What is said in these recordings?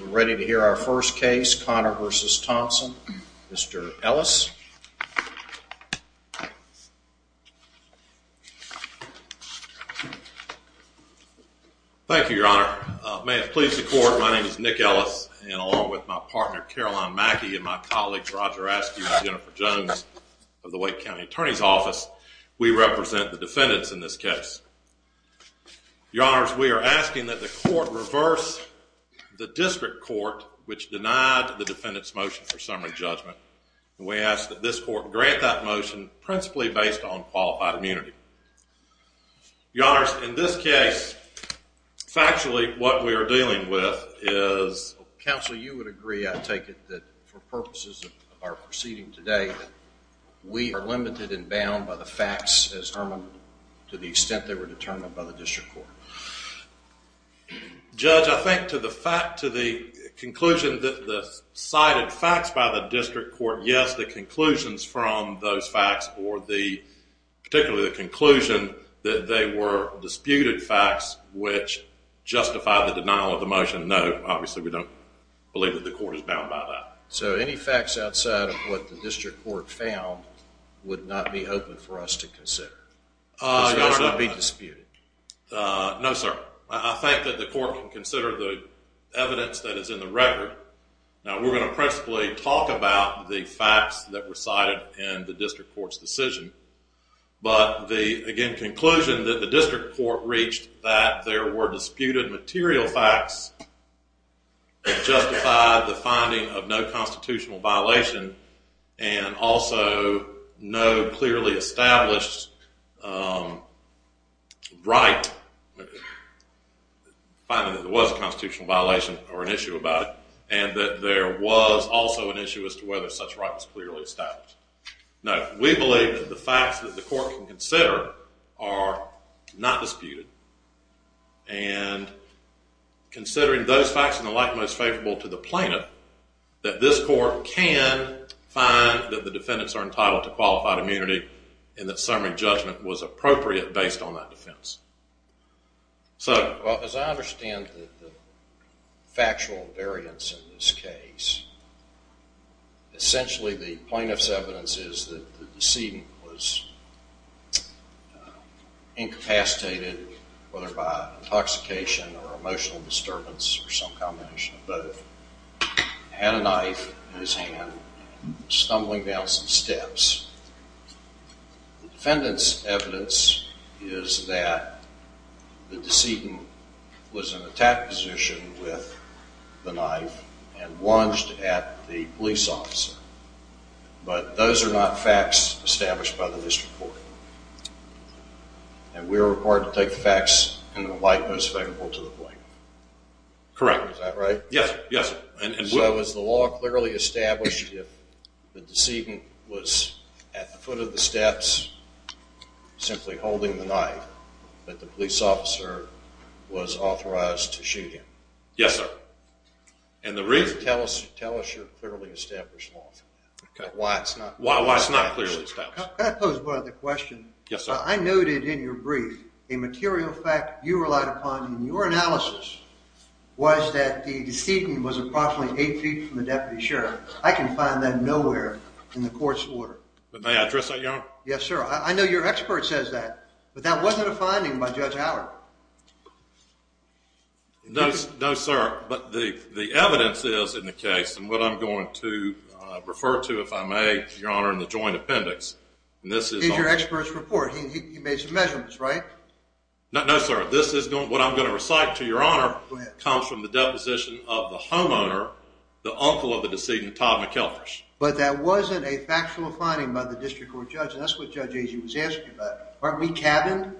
We're ready to hear our first case Connor versus Thompson. Mr. Ellis. Thank you your honor. May it please the court, my name is Nick Ellis and along with my partner Caroline Mackey and my colleagues Roger Askew and Jennifer Jones of the Wake County Attorney's Office, we represent the defendants in this case. Your honors, we are asking that the court reverse the district court which denied the defendant's motion for summary judgment. We ask that this court grant that motion principally based on qualified immunity. Your honors, in this case, factually what we are dealing with is... Counsel, you would agree, I take it that for purposes of our proceeding today, we are limited and bound by the extent they were determined by the district court. Judge, I think to the fact, to the conclusion that the cited facts by the district court, yes, the conclusions from those facts or the particularly the conclusion that they were disputed facts which justify the denial of the motion, no, obviously we don't believe that the court is bound by that. So any facts outside of what the district court found would not be open for us to consider, would not be disputed. No sir, I think that the court can consider the evidence that is in the record. Now we're going to principally talk about the facts that were cited in the district court's decision, but the again conclusion that the district court reached that there were disputed material facts that justified the finding of no constitutional violation and also no clearly established right, finding that there was a constitutional violation or an issue about it and that there was also an issue as to whether such right was clearly established. No, we believe that the facts that the court can consider are not disputed and considering those facts in the plaintiff that this court can find that the defendants are entitled to qualified immunity and that summary judgment was appropriate based on that defense. So as I understand the factual variance in this case, essentially the plaintiff's evidence is that the decedent was incapacitated whether by intoxication or emotional disturbance or some combination of both, had a knife in his hand, stumbling down some steps. The defendant's evidence is that the decedent was in an attack position with the knife and lunged at the police officer, but those are not facts established by the district court. And we're required to take the facts in the light most favorable to the plaintiff. Correct. Is that right? Yes, yes. So was the law clearly established if the decedent was at the foot of the steps simply holding the knife that the police officer was authorized to shoot him? Yes, sir. And the reason... Tell us your clearly established law. Why it's not. Why it's not clearly established. Can I pose one other question? Yes, sir. I noted in your brief a material fact you relied upon in your analysis was that the decedent was approximately 8 feet from the deputy sheriff. I can find that nowhere in the court's order. May I address that, Your Honor? Yes, sir. I know your expert says that, but that wasn't a finding by Judge Allard. No, sir, but the finding that I'm going to refer to, if I may, Your Honor, in the joint appendix. This is your expert's report. He made some measurements, right? No, sir. This is what I'm going to recite to Your Honor. It comes from the deposition of the homeowner, the uncle of the decedent, Todd McElfish. But that wasn't a factual finding by the district court judge. And that's what Judge Agy was asking about. Aren't we cabined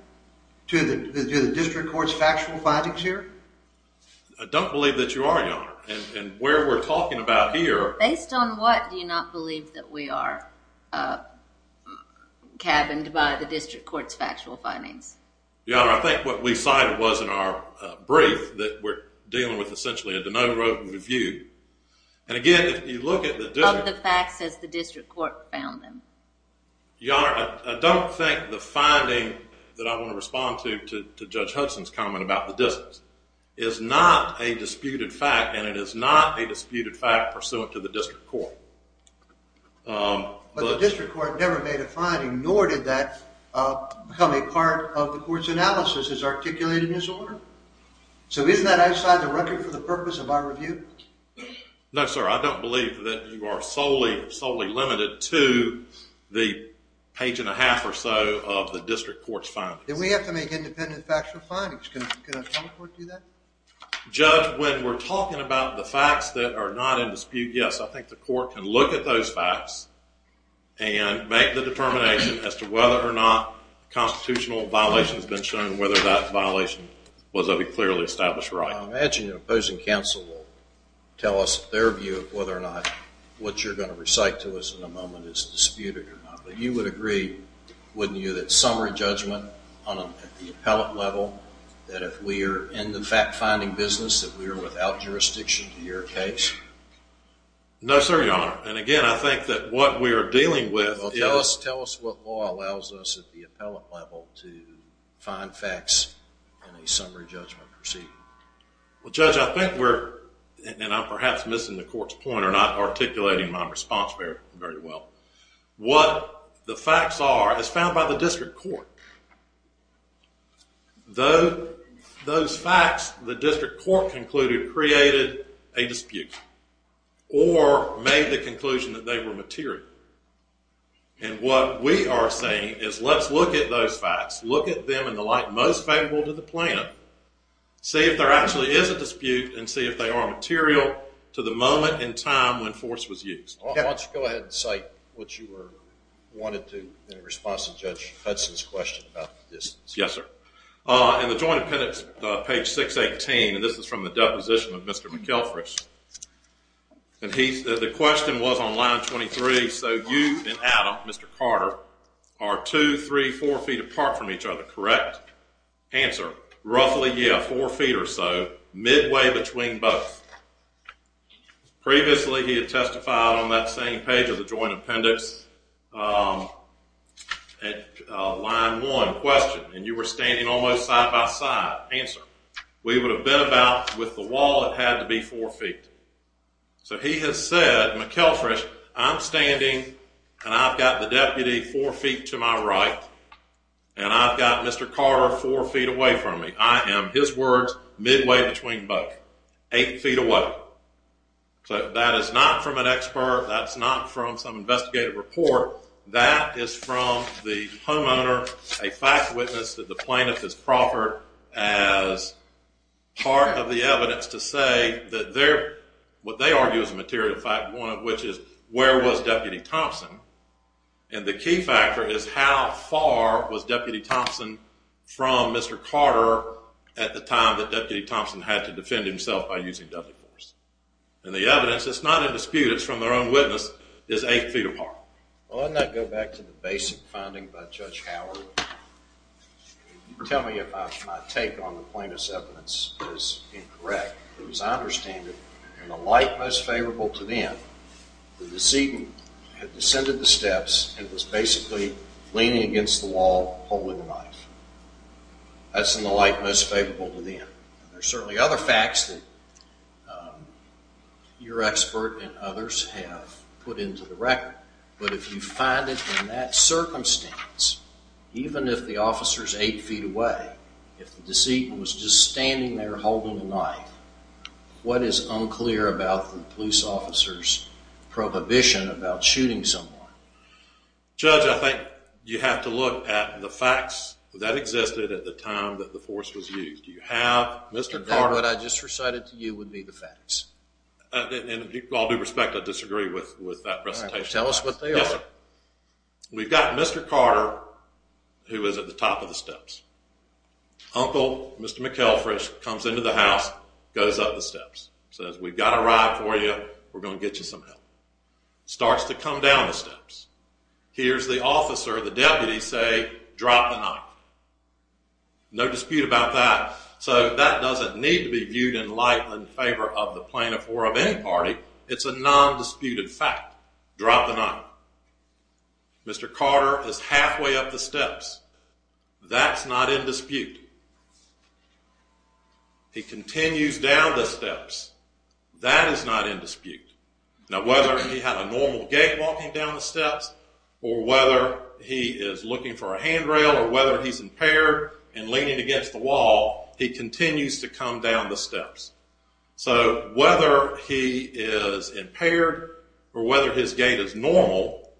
to the district court's factual findings here? I don't believe that you are, Your Honor. And where we're talking about here is the fact that the decedent was in an attack position with the knife and lunged at the police officer, but those are not facts established by the district court. Can I pose one other question? Yes, sir. I noted in your brief a material fact you relied upon in your analysis was that the decedent was approximately 8 feet from the deputy sheriff. I can find that nowhere in the court's order. May I ask, based on what, do you not believe that we are cabined by the district court's factual findings? Your Honor, I think what we cited was in our brief that we're dealing with, essentially, a denote, wrote, and reviewed. And again, if you look at the district... Of the facts, has the district court found them? Your Honor, I don't think the finding that I want to respond to, to Judge Hudson's comment about the distance, is not a disputed fact and it is not a disputed fact pursuant to the district court. But the district court never made a finding, nor did that become a part of the court's analysis as articulated in his order? So isn't that outside the record for the purpose of our review? No, sir, I don't believe that you are solely, solely limited to the page and a half or so of the district court's findings. Then we have to make independent factual findings. Can a telecourt do that? Judge, when we're talking about the facts that are not in dispute, yes, I think the court can look at those facts and make the determination as to whether or not a constitutional violation has been shown and whether that violation was of a clearly established right. I imagine an opposing counsel will tell us their view of whether or not what you're going to recite to us in a moment is disputed or not. But you would agree, wouldn't you, that summary judgment at the appellate level, that we are in the fact-finding business, that we are without jurisdiction to your case? No, sir, Your Honor. And again, I think that what we are dealing with is- Well, tell us what law allows us at the appellate level to find facts in a summary judgment proceeding. Well, Judge, I think we're, and I'm perhaps missing the court's point or not articulating my response very well. What the facts are is found by the district court. Those facts the district court concluded created a dispute or made the conclusion that they were material. And what we are saying is let's look at those facts, look at them in the light most favorable to the plaintiff, see if there actually is a dispute, and see if they are material to the moment in time when force was used. Why don't you go ahead and cite what you wanted to in response to Judge Hudson's question about the distance. Yes, sir. In the Joint Appendix, page 618, and this is from the deposition of Mr. McElfrey, the question was on line 23, so you and Adam, Mr. Carter, are 2, 3, 4 feet apart from each other, correct? Answer, roughly, yeah, 4 feet or so, midway between both. Previously, he had testified on that same page of the Joint Appendix at line 1, question, and you were standing almost side by side. Answer, we would have been about, with the wall, it had to be 4 feet. So he has said, McElfrey, I'm standing and I've got the deputy 4 feet to my right, and I've got Mr. Carter 4 feet away from me. I am, his words, midway between both, 8 feet away. So that is not from an expert, that's not from some investigative report, that is from the homeowner, a fact witness that the plaintiff has proffered as part of the evidence to say that what they argue is a material fact, which is where was Deputy Thompson, and the key factor is how far was Deputy Thompson from Mr. Carter at the time that Deputy Thompson had to defend himself by using deadly force. And the evidence, it's not in dispute, it's from their own witness, is 8 feet apart. Well, wouldn't that go back to the basic finding by Judge Howard? Tell me if my take on the plaintiff's evidence is incorrect, because I understand that in a light most favorable to them, the decedent had descended the steps and was basically leaning against the wall, that's in a light most favorable to them. There are certainly other facts that your expert and others have put into the record, but if you find it in that circumstance, even if the officer is 8 feet away, if the decedent was just standing there holding a knife, what is unclear about the police officer's prohibition about shooting someone? Judge, I think you have to look at the facts that existed at the time that the force was used. You have Mr. Carter... And then what I just recited to you would be the facts. In all due respect, I disagree with that presentation. All right, well, tell us what they are. Yes, sir. We've got Mr. Carter, who was at the top of the steps. Uncle, Mr. McElfresh, comes into the house, goes up the steps, says, we've got a ride for you, we're going to get you some help. Starts to come down the steps. Hears the officer, the deputy say, drop the knife. No dispute about that. So that doesn't need to be viewed in light and favor of the plaintiff or of any party. It's a non-disputed fact. Drop the knife. Mr. Carter is halfway up the steps. That's not in dispute. He continues down the steps. That is not in dispute. Now whether he had a normal gait walking down the steps or whether he is looking for a handrail or whether he's impaired and leaning against the wall, he continues to come down the steps. So whether he is impaired or whether his gait is normal,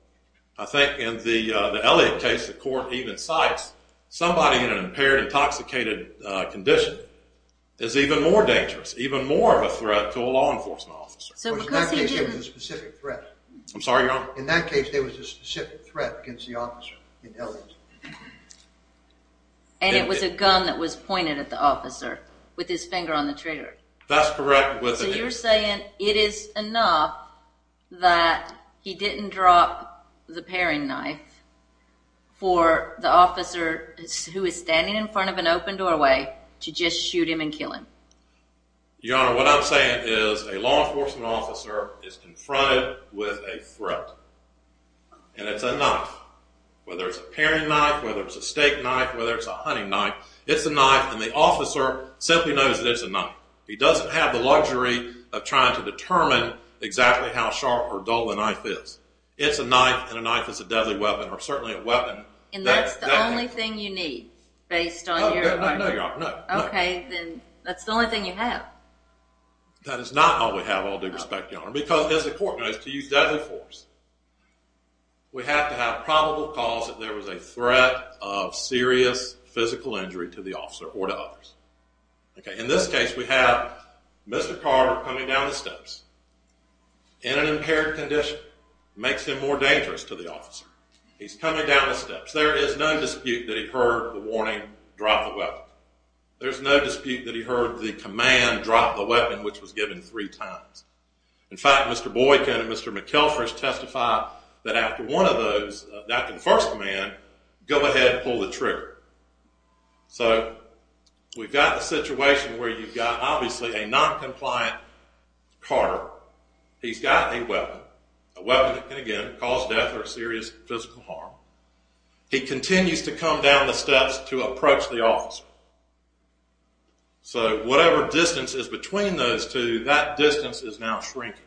I think in the Elliott case the court even cites somebody in an impaired, intoxicated condition is even more dangerous, even more of a threat to a law enforcement officer. In that case there was a specific threat against the officer in Elliott. And it was a gun that was pointed at the officer with his finger on the trigger. That's correct. So you're saying it is enough that he didn't drop the paring knife for the officer who is standing in front of an open doorway to just shoot him and kill him. Your Honor, what I'm saying is a law enforcement officer is confronted with a threat. And it's a knife. Whether it's a paring knife, whether it's a steak knife, whether it's a hunting knife, it's a knife. And the officer simply knows that it's a knife. He doesn't have the luxury of trying to determine exactly how sharp or dull the knife is. It's a knife and a knife is a deadly weapon or certainly a weapon. And that's the only thing you need based on your argument? Your Honor, no. Okay, then that's the only thing you have. That is not all we have, all due respect, Your Honor, because as the court knows, to use deadly force we have to have probable cause that there was a threat of serious physical injury to the officer or to others. In this case we have Mr. Carter coming down the steps in an impaired condition. It makes him more dangerous to the officer. He's coming down the steps. There is no dispute that he heard the warning, drop the weapon. There's no dispute that he heard the command, drop the weapon, which was given three times. In fact, Mr. Boykin and Mr. McElfish testify that after one of those, after the first command, go ahead and pull the trigger. So we've got a situation where you've got obviously a noncompliant Carter. He's got a weapon, a weapon that can, again, cause death or serious physical harm. He continues to come down the steps to approach the officer. So whatever distance is between those two, that distance is now shrinking.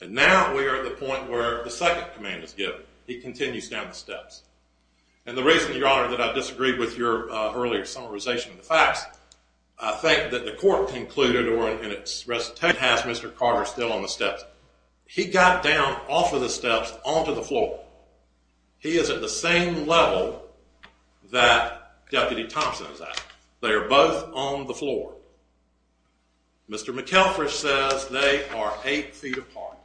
And now we are at the point where the second command is given. He continues down the steps. And the reason, Your Honor, that I disagreed with your earlier summarization of the facts, I think that the court concluded, or in its recitation, has Mr. Carter still on the steps. He got down off of the steps onto the floor. He is at the same level that Deputy Thompson is at. They are both on the floor. Mr. McElfish says they are eight feet apart.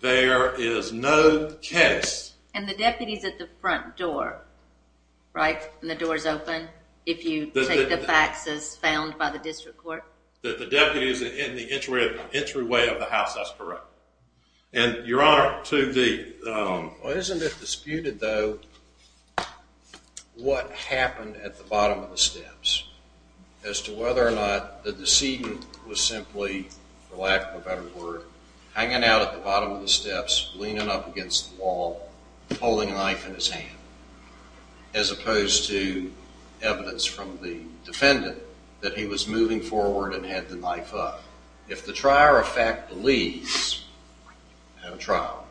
There is no case. And the deputy is at the front door, right? And the door is open if you take the facts as found by the district court? The deputy is in the entryway of the house. That's correct. And, Your Honor, to the— Well, isn't it disputed, though, what happened at the bottom of the steps as to whether or not the decedent was simply, for lack of a better word, hanging out at the bottom of the steps, leaning up against the wall, holding a knife in his hand, as opposed to evidence from the defendant that he was moving forward and had the knife up. If the trier of fact believes in a trial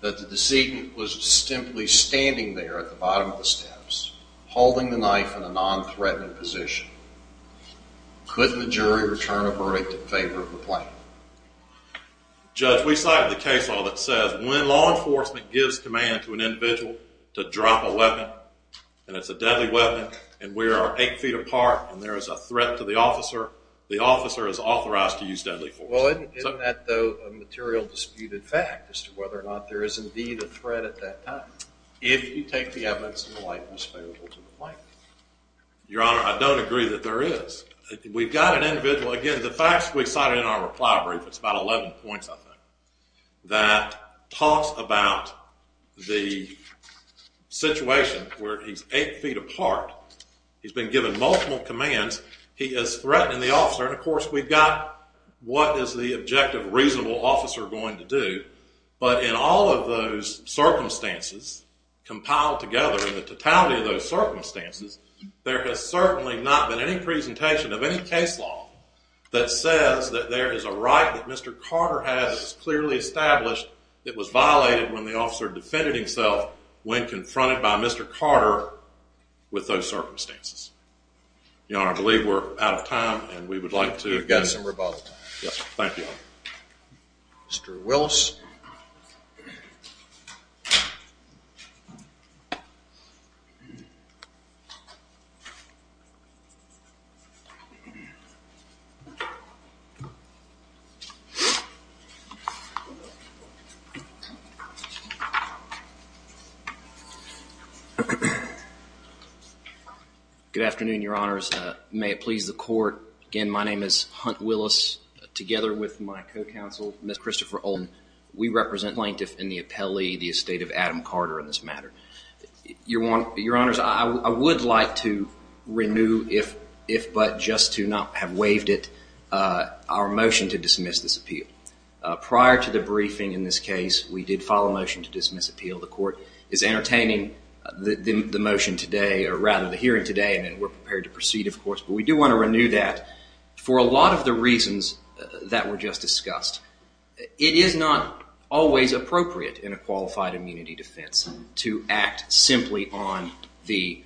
that the decedent was simply standing there at the bottom of the steps, holding the knife in a nonthreatening position, couldn't the jury return a verdict in favor of the plaintiff? Judge, we cited the case law that says when law enforcement gives command to an individual to drop a weapon, and it's a deadly weapon, and we are eight feet apart and there is a threat to the officer, the officer is authorized to use deadly force. Well, isn't that, though, a material disputed fact as to whether or not there is indeed a threat at that time if you take the evidence in the light that's available to the plaintiff? Your Honor, I don't agree that there is. We've got an individual, again, the facts we cited in our reply brief, it's about 11 points, I think, that talks about the situation where he's eight feet apart, he's been given multiple commands, he is threatening the officer, and of course we've got what is the objective reasonable officer going to do, but in all of those circumstances compiled together, in the totality of those circumstances, there has certainly not been any presentation of any case law that says that there is a right that Mr. Carter has clearly established that was violated when the officer defended himself when confronted by Mr. Carter with those circumstances. Your Honor, I believe we're out of time and we would like to... You've got some rebuttal time. Yes, thank you. Mr. Wills. Good afternoon, Your Honors. May it please the court. Again, my name is Hunt Willis. Together with my co-counsel, Ms. Christopher Olin, we represent the plaintiff in the appellee, the estate of Adam Carter in this matter. Your Honors, I would like to renew, if but just to not have waived it, our motion to dismiss this appeal. Prior to the briefing in this case, we did file a motion to dismiss appeal. The court is entertaining the motion today, or rather the hearing today, and we're prepared to proceed, of course, but we do want to renew that for a lot of the reasons that were just discussed. It is not always appropriate in a qualified immunity defense to act simply on the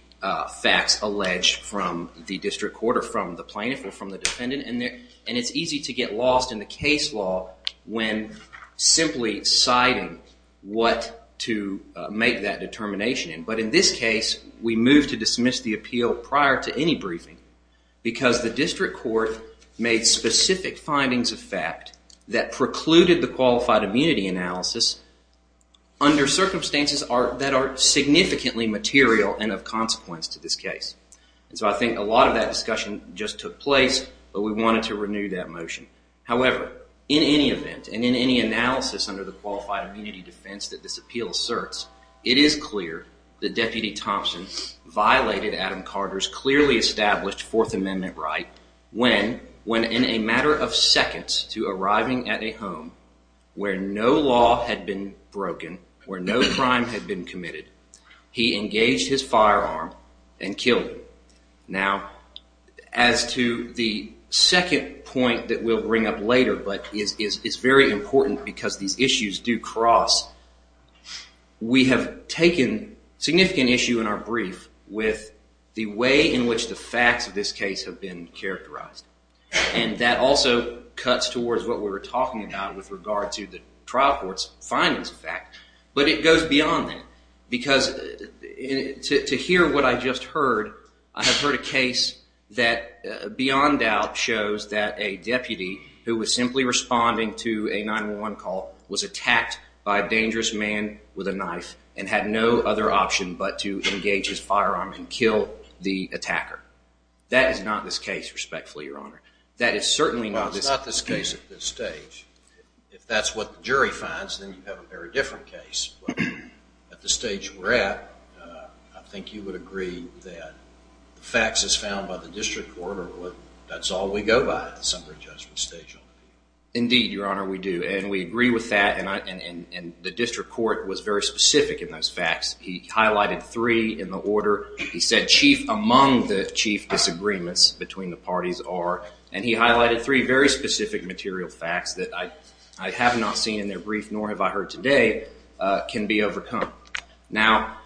facts alleged from the district court or from the plaintiff or from the defendant, and it's easy to get lost in the case law when simply citing what to make that determination in. But in this case, we move to dismiss the appeal prior to any briefing because the district court made specific findings of fact that precluded the qualified immunity analysis under circumstances that are significantly material and of consequence to this case. So I think a lot of that discussion just took place, but we wanted to renew that motion. However, in any event and in any analysis under the qualified immunity defense that this appeal asserts, it is clear that Deputy Thompson violated Adam Carter's clearly established Fourth Amendment right when, in a matter of seconds to arriving at a home where no law had been broken, where no crime had been committed, he engaged his firearm and killed him. Now, as to the second point that we'll bring up later, but it's very important because these issues do cross, we have taken significant issue in our brief with the way in which the facts of this case have been characterized, and that also cuts towards what we were talking about with regard to the trial court's findings of fact. But it goes beyond that because to hear what I just heard, I have heard a case that beyond doubt shows that a deputy who was simply responding to a 911 call was attacked by a dangerous man with a knife and had no other option but to engage his firearm and kill the attacker. That is not this case, respectfully, Your Honor. That is certainly not this case. Well, it's not this case at this stage. If that's what the jury finds, then you have a very different case. But at the stage we're at, I think you would agree that the facts as found by the district court are what that's all we go by at the summary judgment stage. Indeed, Your Honor, we do. And we agree with that. And the district court was very specific in those facts. He highlighted three in the order. He said chief among the chief disagreements between the parties are. And he highlighted three very specific material facts that I have not seen in their brief, nor have I heard today, can be overcome. Now,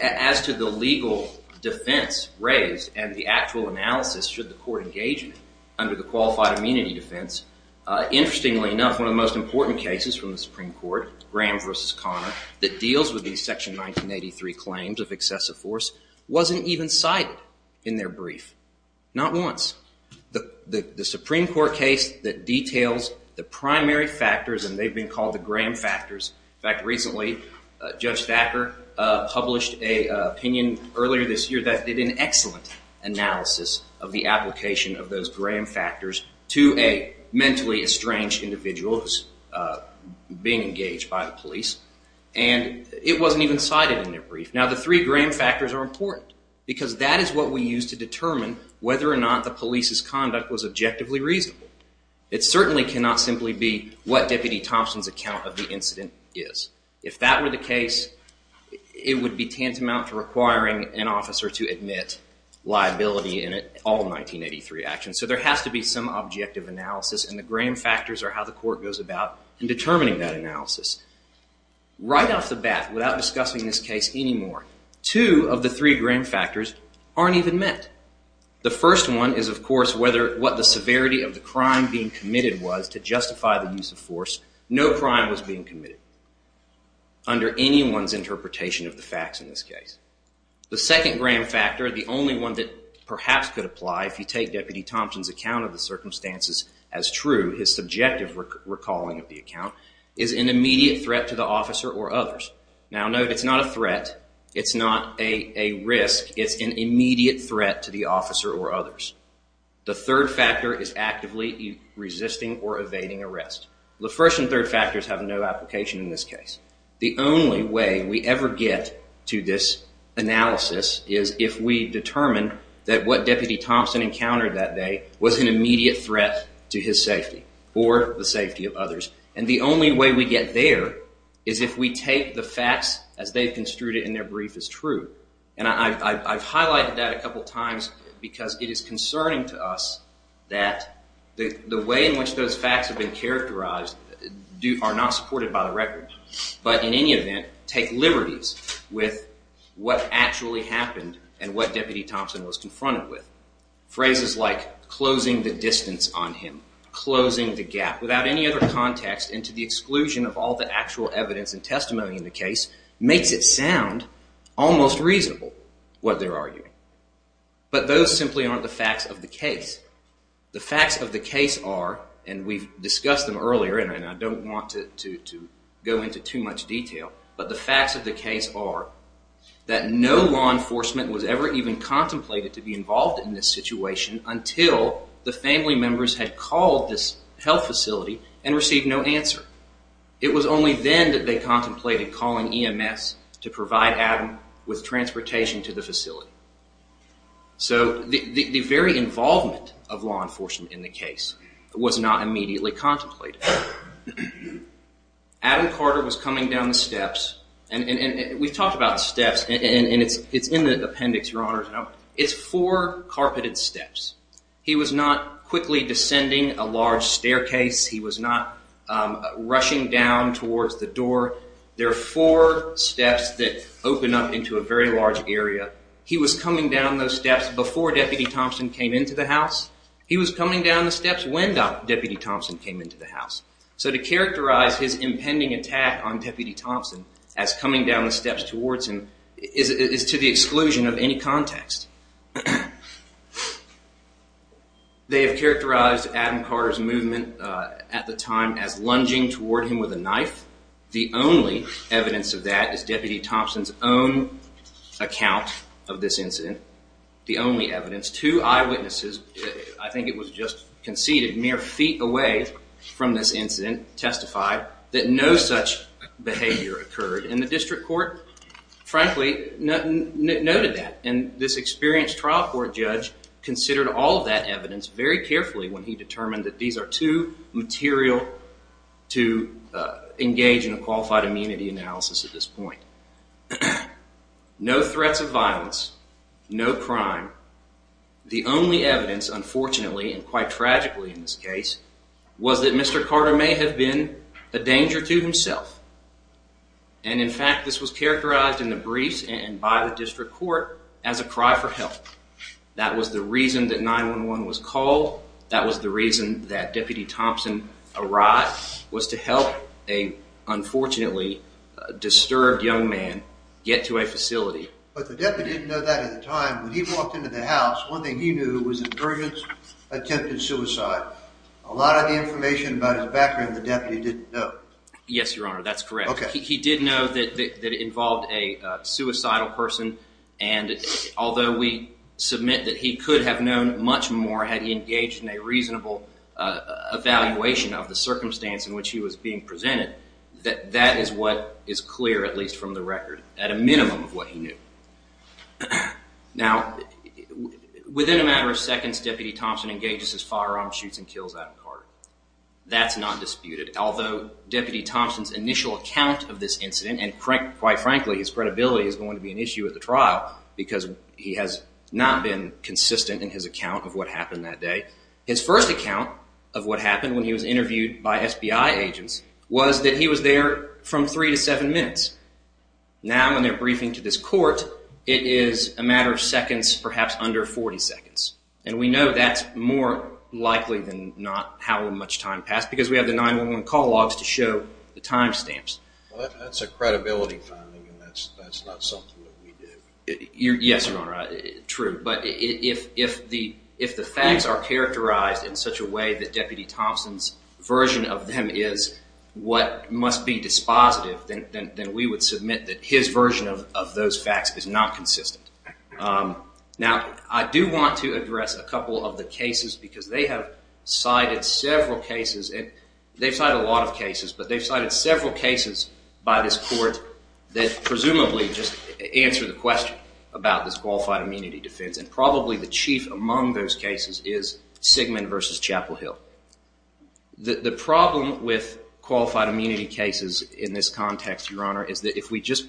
as to the legal defense raised and the actual analysis should the court engage under the qualified immunity defense, interestingly enough, one of the most important cases from the Supreme Court, Graham v. Connor, that deals with these Section 1983 claims of excessive force wasn't even cited in their brief. Not once. The Supreme Court case that details the primary factors, and they've been called the Graham factors. In fact, recently, Judge Thacker published an opinion earlier this year that did an excellent analysis of the application of those Graham factors to a mentally estranged individual who's being engaged by the police. And it wasn't even cited in their brief. Now, the three Graham factors are important because that is what we use to determine whether or not the police's conduct was objectively reasonable. It certainly cannot simply be what Deputy Thompson's account of the incident is. If that were the case, it would be tantamount to requiring an officer to admit liability in all 1983 actions. So there has to be some objective analysis, and the Graham factors are how the court goes about in determining that analysis. Right off the bat, without discussing this case anymore, two of the three Graham factors aren't even met. The first one is, of course, what the severity of the crime being committed was to justify the use of force. No crime was being committed under anyone's interpretation of the facts in this case. The second Graham factor, the only one that perhaps could apply if you take Deputy Thompson's account of the circumstances as true, his subjective recalling of the account, is an immediate threat to the officer or others. Now, note it's not a threat, it's not a risk, it's an immediate threat to the officer or others. The third factor is actively resisting or evading arrest. The first and third factors have no application in this case. The only way we ever get to this analysis is if we determine that what Deputy Thompson encountered that day was an immediate threat to his safety or the safety of others. And the only way we get there is if we take the facts as they've construed it in their brief as true. And I've highlighted that a couple times because it is concerning to us that the way in which those facts have been characterized are not supported by the record. But in any event, take liberties with what actually happened and what Deputy Thompson was confronted with. Phrases like closing the distance on him, closing the gap, without any other context into the exclusion of all the actual evidence and testimony in the case makes it sound almost reasonable what they're arguing. But those simply aren't the facts of the case. The facts of the case are, and we've discussed them earlier and I don't want to go into too much detail, but the facts of the case are that no law enforcement was ever even contemplated to be involved in this situation until the family members had called this health facility and received no answer. It was only then that they contemplated calling EMS to provide Adam with transportation to the facility. So the very involvement of law enforcement in the case was not immediately contemplated. Adam Carter was coming down the steps, and we've talked about steps, and it's in the appendix, Your Honor. It's four carpeted steps. He was not quickly descending a large staircase. He was not rushing down towards the door. There are four steps that open up into a very large area. He was coming down those steps before Deputy Thompson came into the house. He was coming down the steps when Deputy Thompson came into the house. So to characterize his impending attack on Deputy Thompson as coming down the steps towards him is to the exclusion of any context. They have characterized Adam Carter's movement at the time as lunging toward him with a knife. The only evidence of that is Deputy Thompson's own account of this incident. The only evidence, two eyewitnesses, I think it was just conceded mere feet away from this incident, testified that no such behavior occurred in the district court. Frankly, noted that, and this experienced trial court judge considered all of that evidence very carefully when he determined that these are too material to engage in a qualified immunity analysis at this point. No threats of violence, no crime. The only evidence, unfortunately, and quite tragically in this case, was that Mr. Carter may have been a danger to himself. And in fact, this was characterized in the briefs and by the district court as a cry for help. That was the reason that 911 was called. That was the reason that Deputy Thompson arrived, was to help an unfortunately disturbed young man get to a facility. But the deputy didn't know that at the time. When he walked into the house, one thing he knew was that Burgess attempted suicide. A lot of the information about his background the deputy didn't know. Yes, Your Honor, that's correct. He did know that it involved a suicidal person, and although we submit that he could have known much more had he engaged in a reasonable evaluation of the circumstance in which he was being presented, that is what is clear, at least from the record, at a minimum of what he knew. Now, within a matter of seconds, Deputy Thompson engages his firearm, shoots and kills Adam Carter. That's not disputed, although Deputy Thompson's initial account of this incident, and quite frankly, his credibility is going to be an issue at the trial because he has not been consistent in his account of what happened that day. His first account of what happened when he was interviewed by SBI agents was that he was there from three to seven minutes. Now, when they're briefing to this court, it is a matter of seconds, perhaps under 40 seconds. And we know that's more likely than not how much time passed because we have the 911 call logs to show the time stamps. Well, that's a credibility finding, and that's not something that we did. Yes, Your Honor, true. But if the facts are characterized in such a way that Deputy Thompson's version of them is what must be dispositive, then we would submit that his version of those facts is not consistent. Now, I do want to address a couple of the cases because they have cited several cases. They've cited a lot of cases, but they've cited several cases by this court that presumably just answer the question about this qualified immunity defense. And probably the chief among those cases is Sigmund v. Chapel Hill. The problem with qualified immunity cases in this context, Your Honor, is that if we just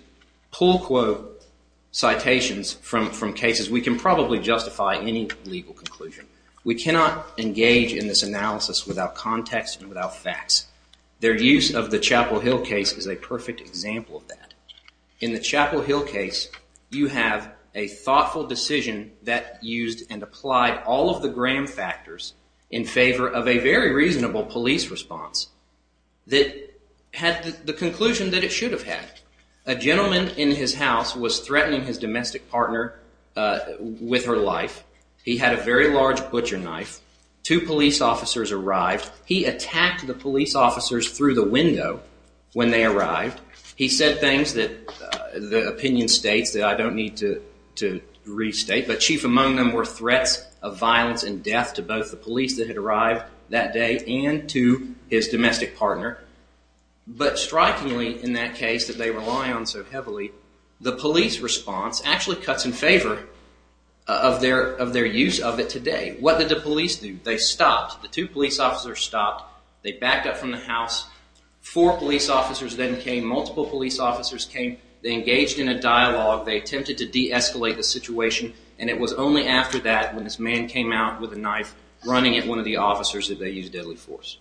pull quote citations from cases, we can probably justify any legal conclusion. We cannot engage in this analysis without context and without facts. Their use of the Chapel Hill case is a perfect example of that. In the Chapel Hill case, you have a thoughtful decision that used and applied all of the Graham factors in favor of a very reasonable police response that had the conclusion that it should have had. A gentleman in his house was threatening his domestic partner with her life. He had a very large butcher knife. Two police officers arrived. He attacked the police officers through the window when they arrived. He said things that the opinion states that I don't need to restate, but chief among them were threats of violence and death to both the police that had arrived that day and to his domestic partner. But strikingly in that case that they rely on so heavily, the police response actually cuts in favor of their use of it today. What did the police do? They stopped. The two police officers stopped. They backed up from the house. Four police officers then came. Multiple police officers came. They engaged in a dialogue. They attempted to de-escalate the situation, and it was only after that when this man came out with a knife running at one of the officers that they used deadly force.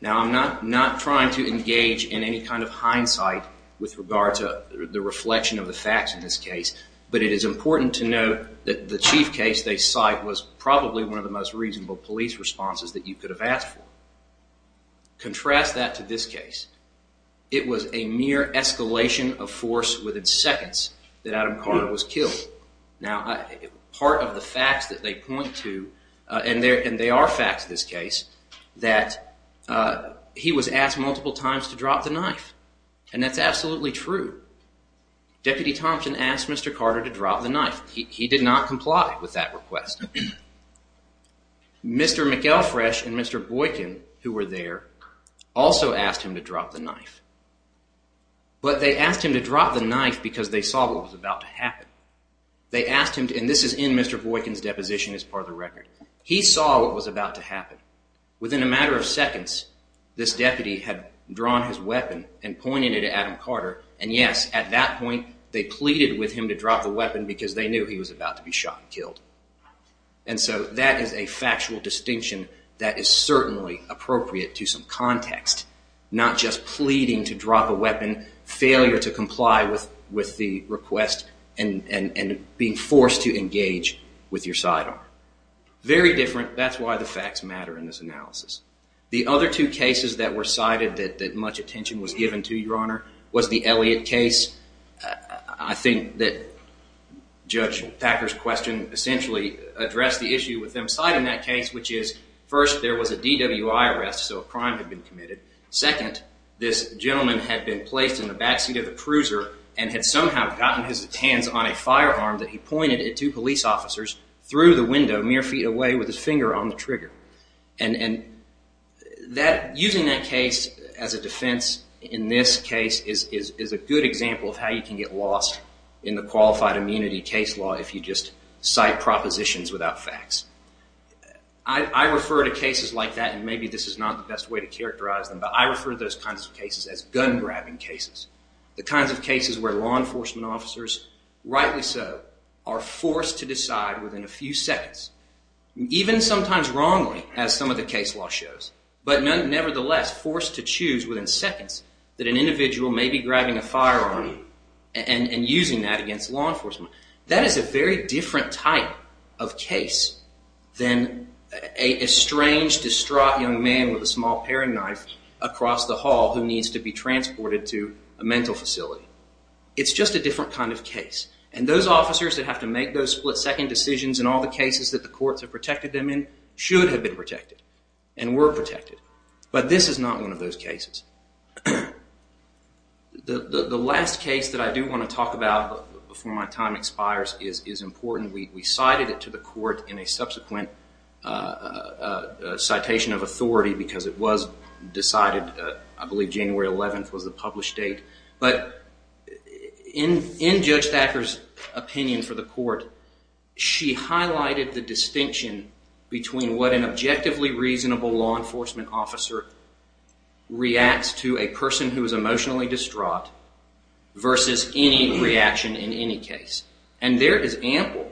Now, I'm not trying to engage in any kind of hindsight with regard to the reflection of the facts in this case, but it is important to note that the chief case they cite was probably one of the most reasonable police responses that you could have asked for. Contrast that to this case. It was a mere escalation of force within seconds that Adam Carter was killed. Now, part of the facts that they point to, and they are facts in this case, that he was asked multiple times to drop the knife, and that's absolutely true. Deputy Thompson asked Mr. Carter to drop the knife. He did not comply with that request. Mr. McElfresh and Mr. Boykin, who were there, also asked him to drop the knife, but they asked him to drop the knife because they saw what was about to happen. They asked him to, and this is in Mr. Boykin's deposition as part of the record. He saw what was about to happen. Within a matter of seconds, this deputy had drawn his weapon and pointed it at Adam Carter, and yes, at that point, they pleaded with him to drop the weapon because they knew he was about to be shot and killed. And so that is a factual distinction that is certainly appropriate to some context, not just pleading to drop a weapon, failure to comply with the request, and being forced to engage with your sidearm. Very different. That's why the facts matter in this analysis. The other two cases that were cited that much attention was given to, Your Honor, was the Elliott case. I think that Judge Thacker's question essentially addressed the issue with them citing that case, which is first, there was a DWI arrest, so a crime had been committed. Second, this gentleman had been placed in the backseat of the cruiser and had somehow gotten his hands on a firearm that he pointed at two police officers through the window, mere feet away with his finger on the trigger. And using that case as a defense in this case is a good example of how you can get lost in the qualified immunity case law if you just cite propositions without facts. I refer to cases like that, and maybe this is not the best way to characterize them, but I refer to those kinds of cases as gun-grabbing cases, the kinds of cases where law enforcement officers, rightly so, are forced to decide within a few seconds, even sometimes wrongly, as some of the case law shows, but nevertheless forced to choose within seconds that an individual may be grabbing a firearm and using that against law enforcement. That is a very different type of case than a strange, distraught young man with a small paring knife across the hall who needs to be transported to a mental facility. It's just a different kind of case, and those officers that have to make those split-second decisions in all the cases that the courts have protected them in should have been protected and were protected, but this is not one of those cases. The last case that I do want to talk about before my time expires is important. We cited it to the court in a subsequent citation of authority because it was decided, I believe January 11th was the published date, but in Judge Thacker's opinion for the court, she highlighted the distinction between what an objectively reasonable law enforcement officer reacts to a person who is emotionally distraught versus any reaction in any case, and there is ample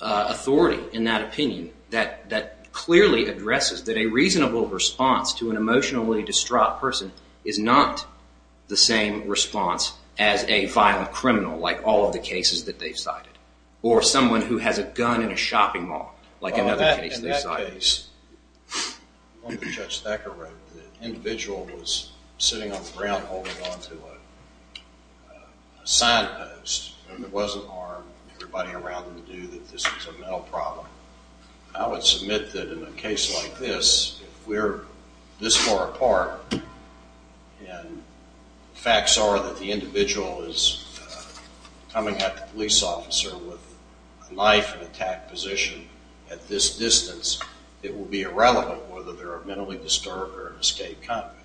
authority in that opinion that clearly addresses that a reasonable response to an emotionally distraught person is not the same response as a violent criminal like all of the cases that they've cited or someone who has a gun in a shopping mall like another case they've cited. In that case, Judge Thacker wrote, the individual was sitting on the ground holding on to a sign post and it wasn't armed. Everybody around them knew that this was a mental problem. I would submit that in a case like this, if we're this far apart and facts are that the individual is coming at the police officer with a knife in an attack position at this distance, it will be irrelevant whether they're a mentally disturbed or an escaped convict.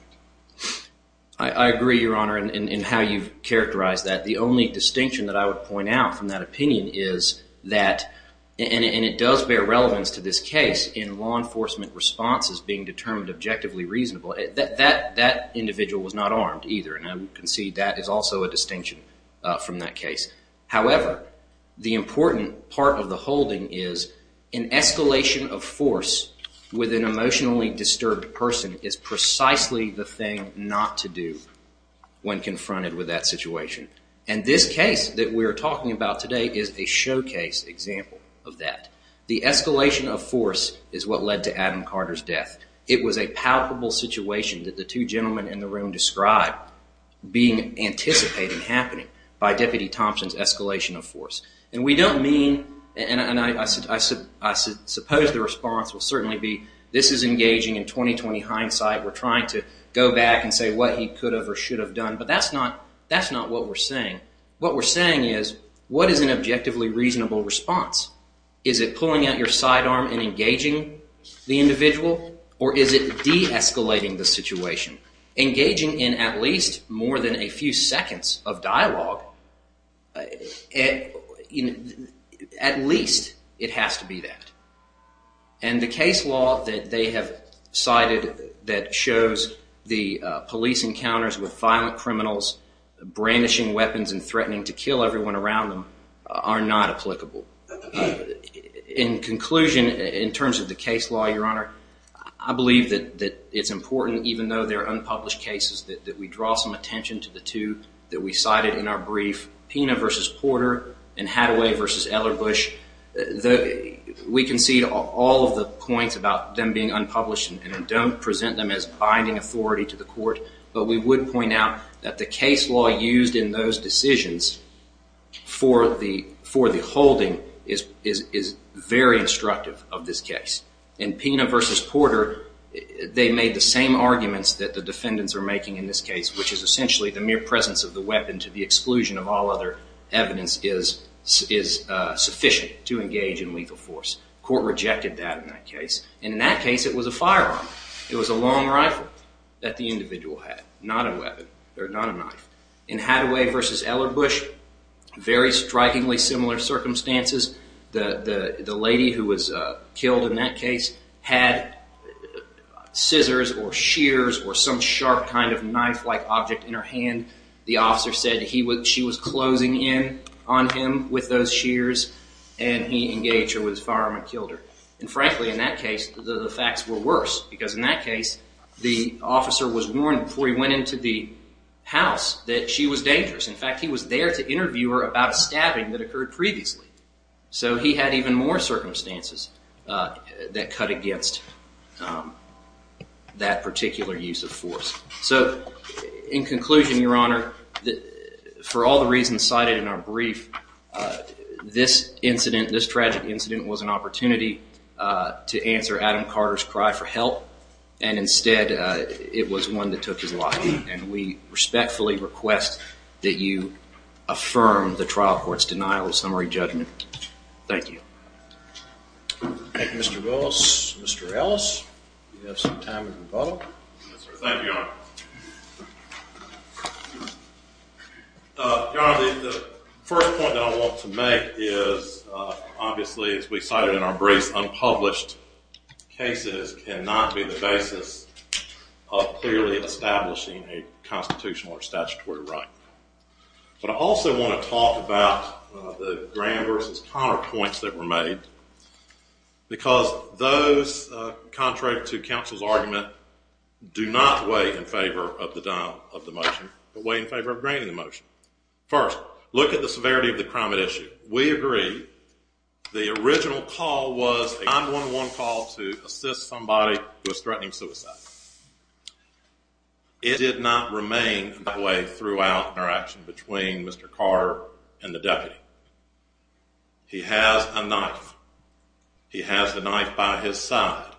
I agree, Your Honor, in how you've characterized that. The only distinction that I would point out from that opinion is that, and it does bear relevance to this case, in law enforcement responses being determined objectively reasonable, that individual was not armed either, and I would concede that is also a distinction from that case. However, the important part of the holding is an escalation of force with an emotionally disturbed person is precisely the thing not to do when confronted with that situation. And this case that we're talking about today is a showcase example of that. The escalation of force is what led to Adam Carter's death. It was a palpable situation that the two gentlemen in the room described being anticipated happening by Deputy Thompson's escalation of force. And we don't mean, and I suppose the response will certainly be, this is engaging in 20-20 hindsight. We're trying to go back and say what he could have or should have done, but that's not what we're saying. What we're saying is, what is an objectively reasonable response? Is it pulling out your sidearm and engaging the individual, or is it de-escalating the situation? Engaging in at least more than a few seconds of dialogue, at least it has to be that. And the case law that they have cited that shows the police encounters with violent criminals, brandishing weapons and threatening to kill everyone around them, are not applicable. In conclusion, in terms of the case law, Your Honor, I believe that it's important, even though they're unpublished cases, that we draw some attention to the two that we cited in our brief, Pina v. Porter and Hathaway v. Ellerbush. We concede all of the points about them being unpublished and don't present them as binding authority to the court, but we would point out that the case law used in those decisions for the holding is very instructive of this case. In Pina v. Porter, they made the same arguments that the defendants are making in this case, which is essentially the mere presence of the weapon to the exclusion of all other evidence is sufficient to engage in lethal force. Court rejected that in that case, and in that case it was a firearm. It was a long rifle that the individual had, not a weapon or not a knife. In Hathaway v. Ellerbush, very strikingly similar circumstances. The lady who was killed in that case had scissors or shears or some sharp kind of knife-like object in her hand. The officer said she was closing in on him with those shears, and he engaged her with his firearm and killed her. And frankly, in that case, the facts were worse, because in that case the officer was warned before he went into the house that she was dangerous. In fact, he was there to interview her about a stabbing that occurred previously. So he had even more circumstances that cut against that particular use of force. So in conclusion, Your Honor, for all the reasons cited in our brief, this incident, this tragic incident, was an opportunity to answer Adam Carter's cry for help, and instead it was one that took his life. And we respectfully request that you affirm the trial court's denial of summary judgment. Thank you. Thank you, Mr. Willis. Mr. Ellis, you have some time in rebuttal. Thank you, Your Honor. Your Honor, the first point that I want to make is, obviously as we cited in our brief, unpublished cases cannot be the basis of clearly establishing a constitutional or statutory right. But I also want to talk about the Graham v. Conner points that were made, because those, contrary to counsel's argument, do not weigh in favor of the denial of the motion, but weigh in favor of granting the motion. First, look at the severity of the crime at issue. We agree the original call was a 9-1-1 call to assist somebody who was threatening suicide. It did not remain that way throughout our action between Mr. Carter and the deputy. He has a knife. He has the knife by his side.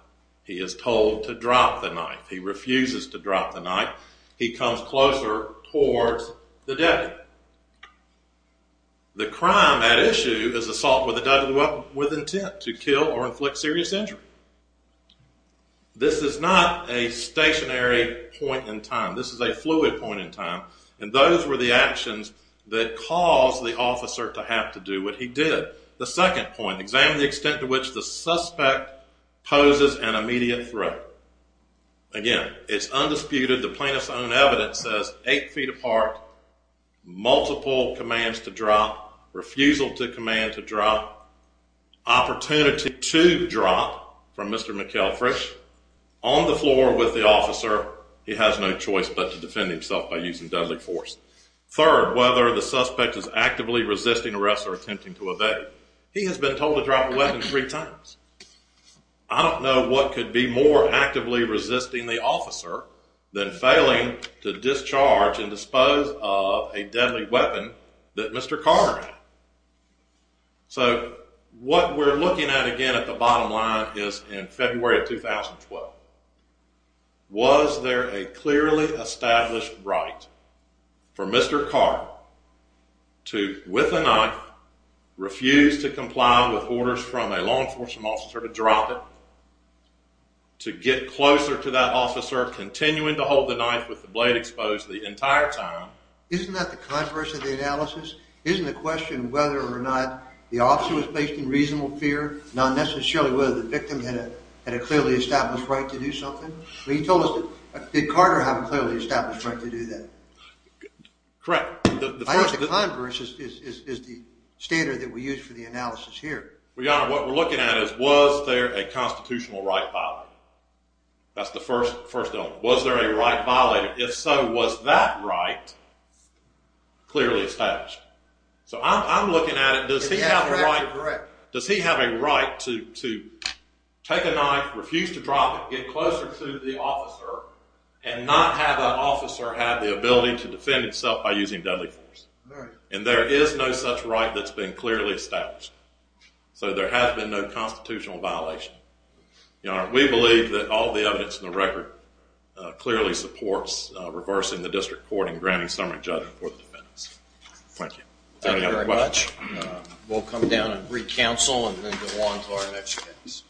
He is told to drop the knife. He refuses to drop the knife. He comes closer towards the deputy. The crime at issue is assault with a deadly weapon with intent to kill or inflict serious injury. This is not a stationary point in time. This is a fluid point in time. And those were the actions that caused the officer to have to do what he did. The second point, examine the extent to which the suspect poses an immediate threat. Again, it's undisputed. The plaintiff's own evidence says 8 feet apart, multiple commands to drop, refusal to command to drop, opportunity to drop from Mr. McElfresh, on the floor with the officer, he has no choice but to defend himself by using deadly force. Third, whether the suspect is actively resisting arrest or attempting to evade, he has been told to drop a weapon three times. I don't know what could be more actively resisting the officer than failing to discharge and dispose of a deadly weapon that Mr. Carter had. So what we're looking at again at the bottom line is in February of 2012. Was there a clearly established right for Mr. Carter to, with a knife, refuse to comply with orders from a law enforcement officer to drop it, to get closer to that officer, continuing to hold the knife with the blade exposed the entire time? Isn't that the controversy of the analysis? Isn't the question whether or not the officer was placed in reasonable fear, not necessarily whether the victim had a clearly established right to do something? He told us, did Carter have a clearly established right to do that? Correct. I think the controversy is the standard that we use for the analysis here. Well, Your Honor, what we're looking at is was there a constitutional right violated? That's the first element. Was there a right violated? If so, was that right clearly established? So I'm looking at it. Does he have a right to take a knife, refuse to drop it, get closer to the officer, and not have that officer have the ability to defend itself by using deadly force? And there is no such right that's been clearly established. So there has been no constitutional violation. Your Honor, we believe that all the evidence in the record clearly supports reversing the district court and granting summary judgment for the defendants. Thank you. Is there any other questions? Thank you very much. We'll come down and re-counsel and then go on to our next case.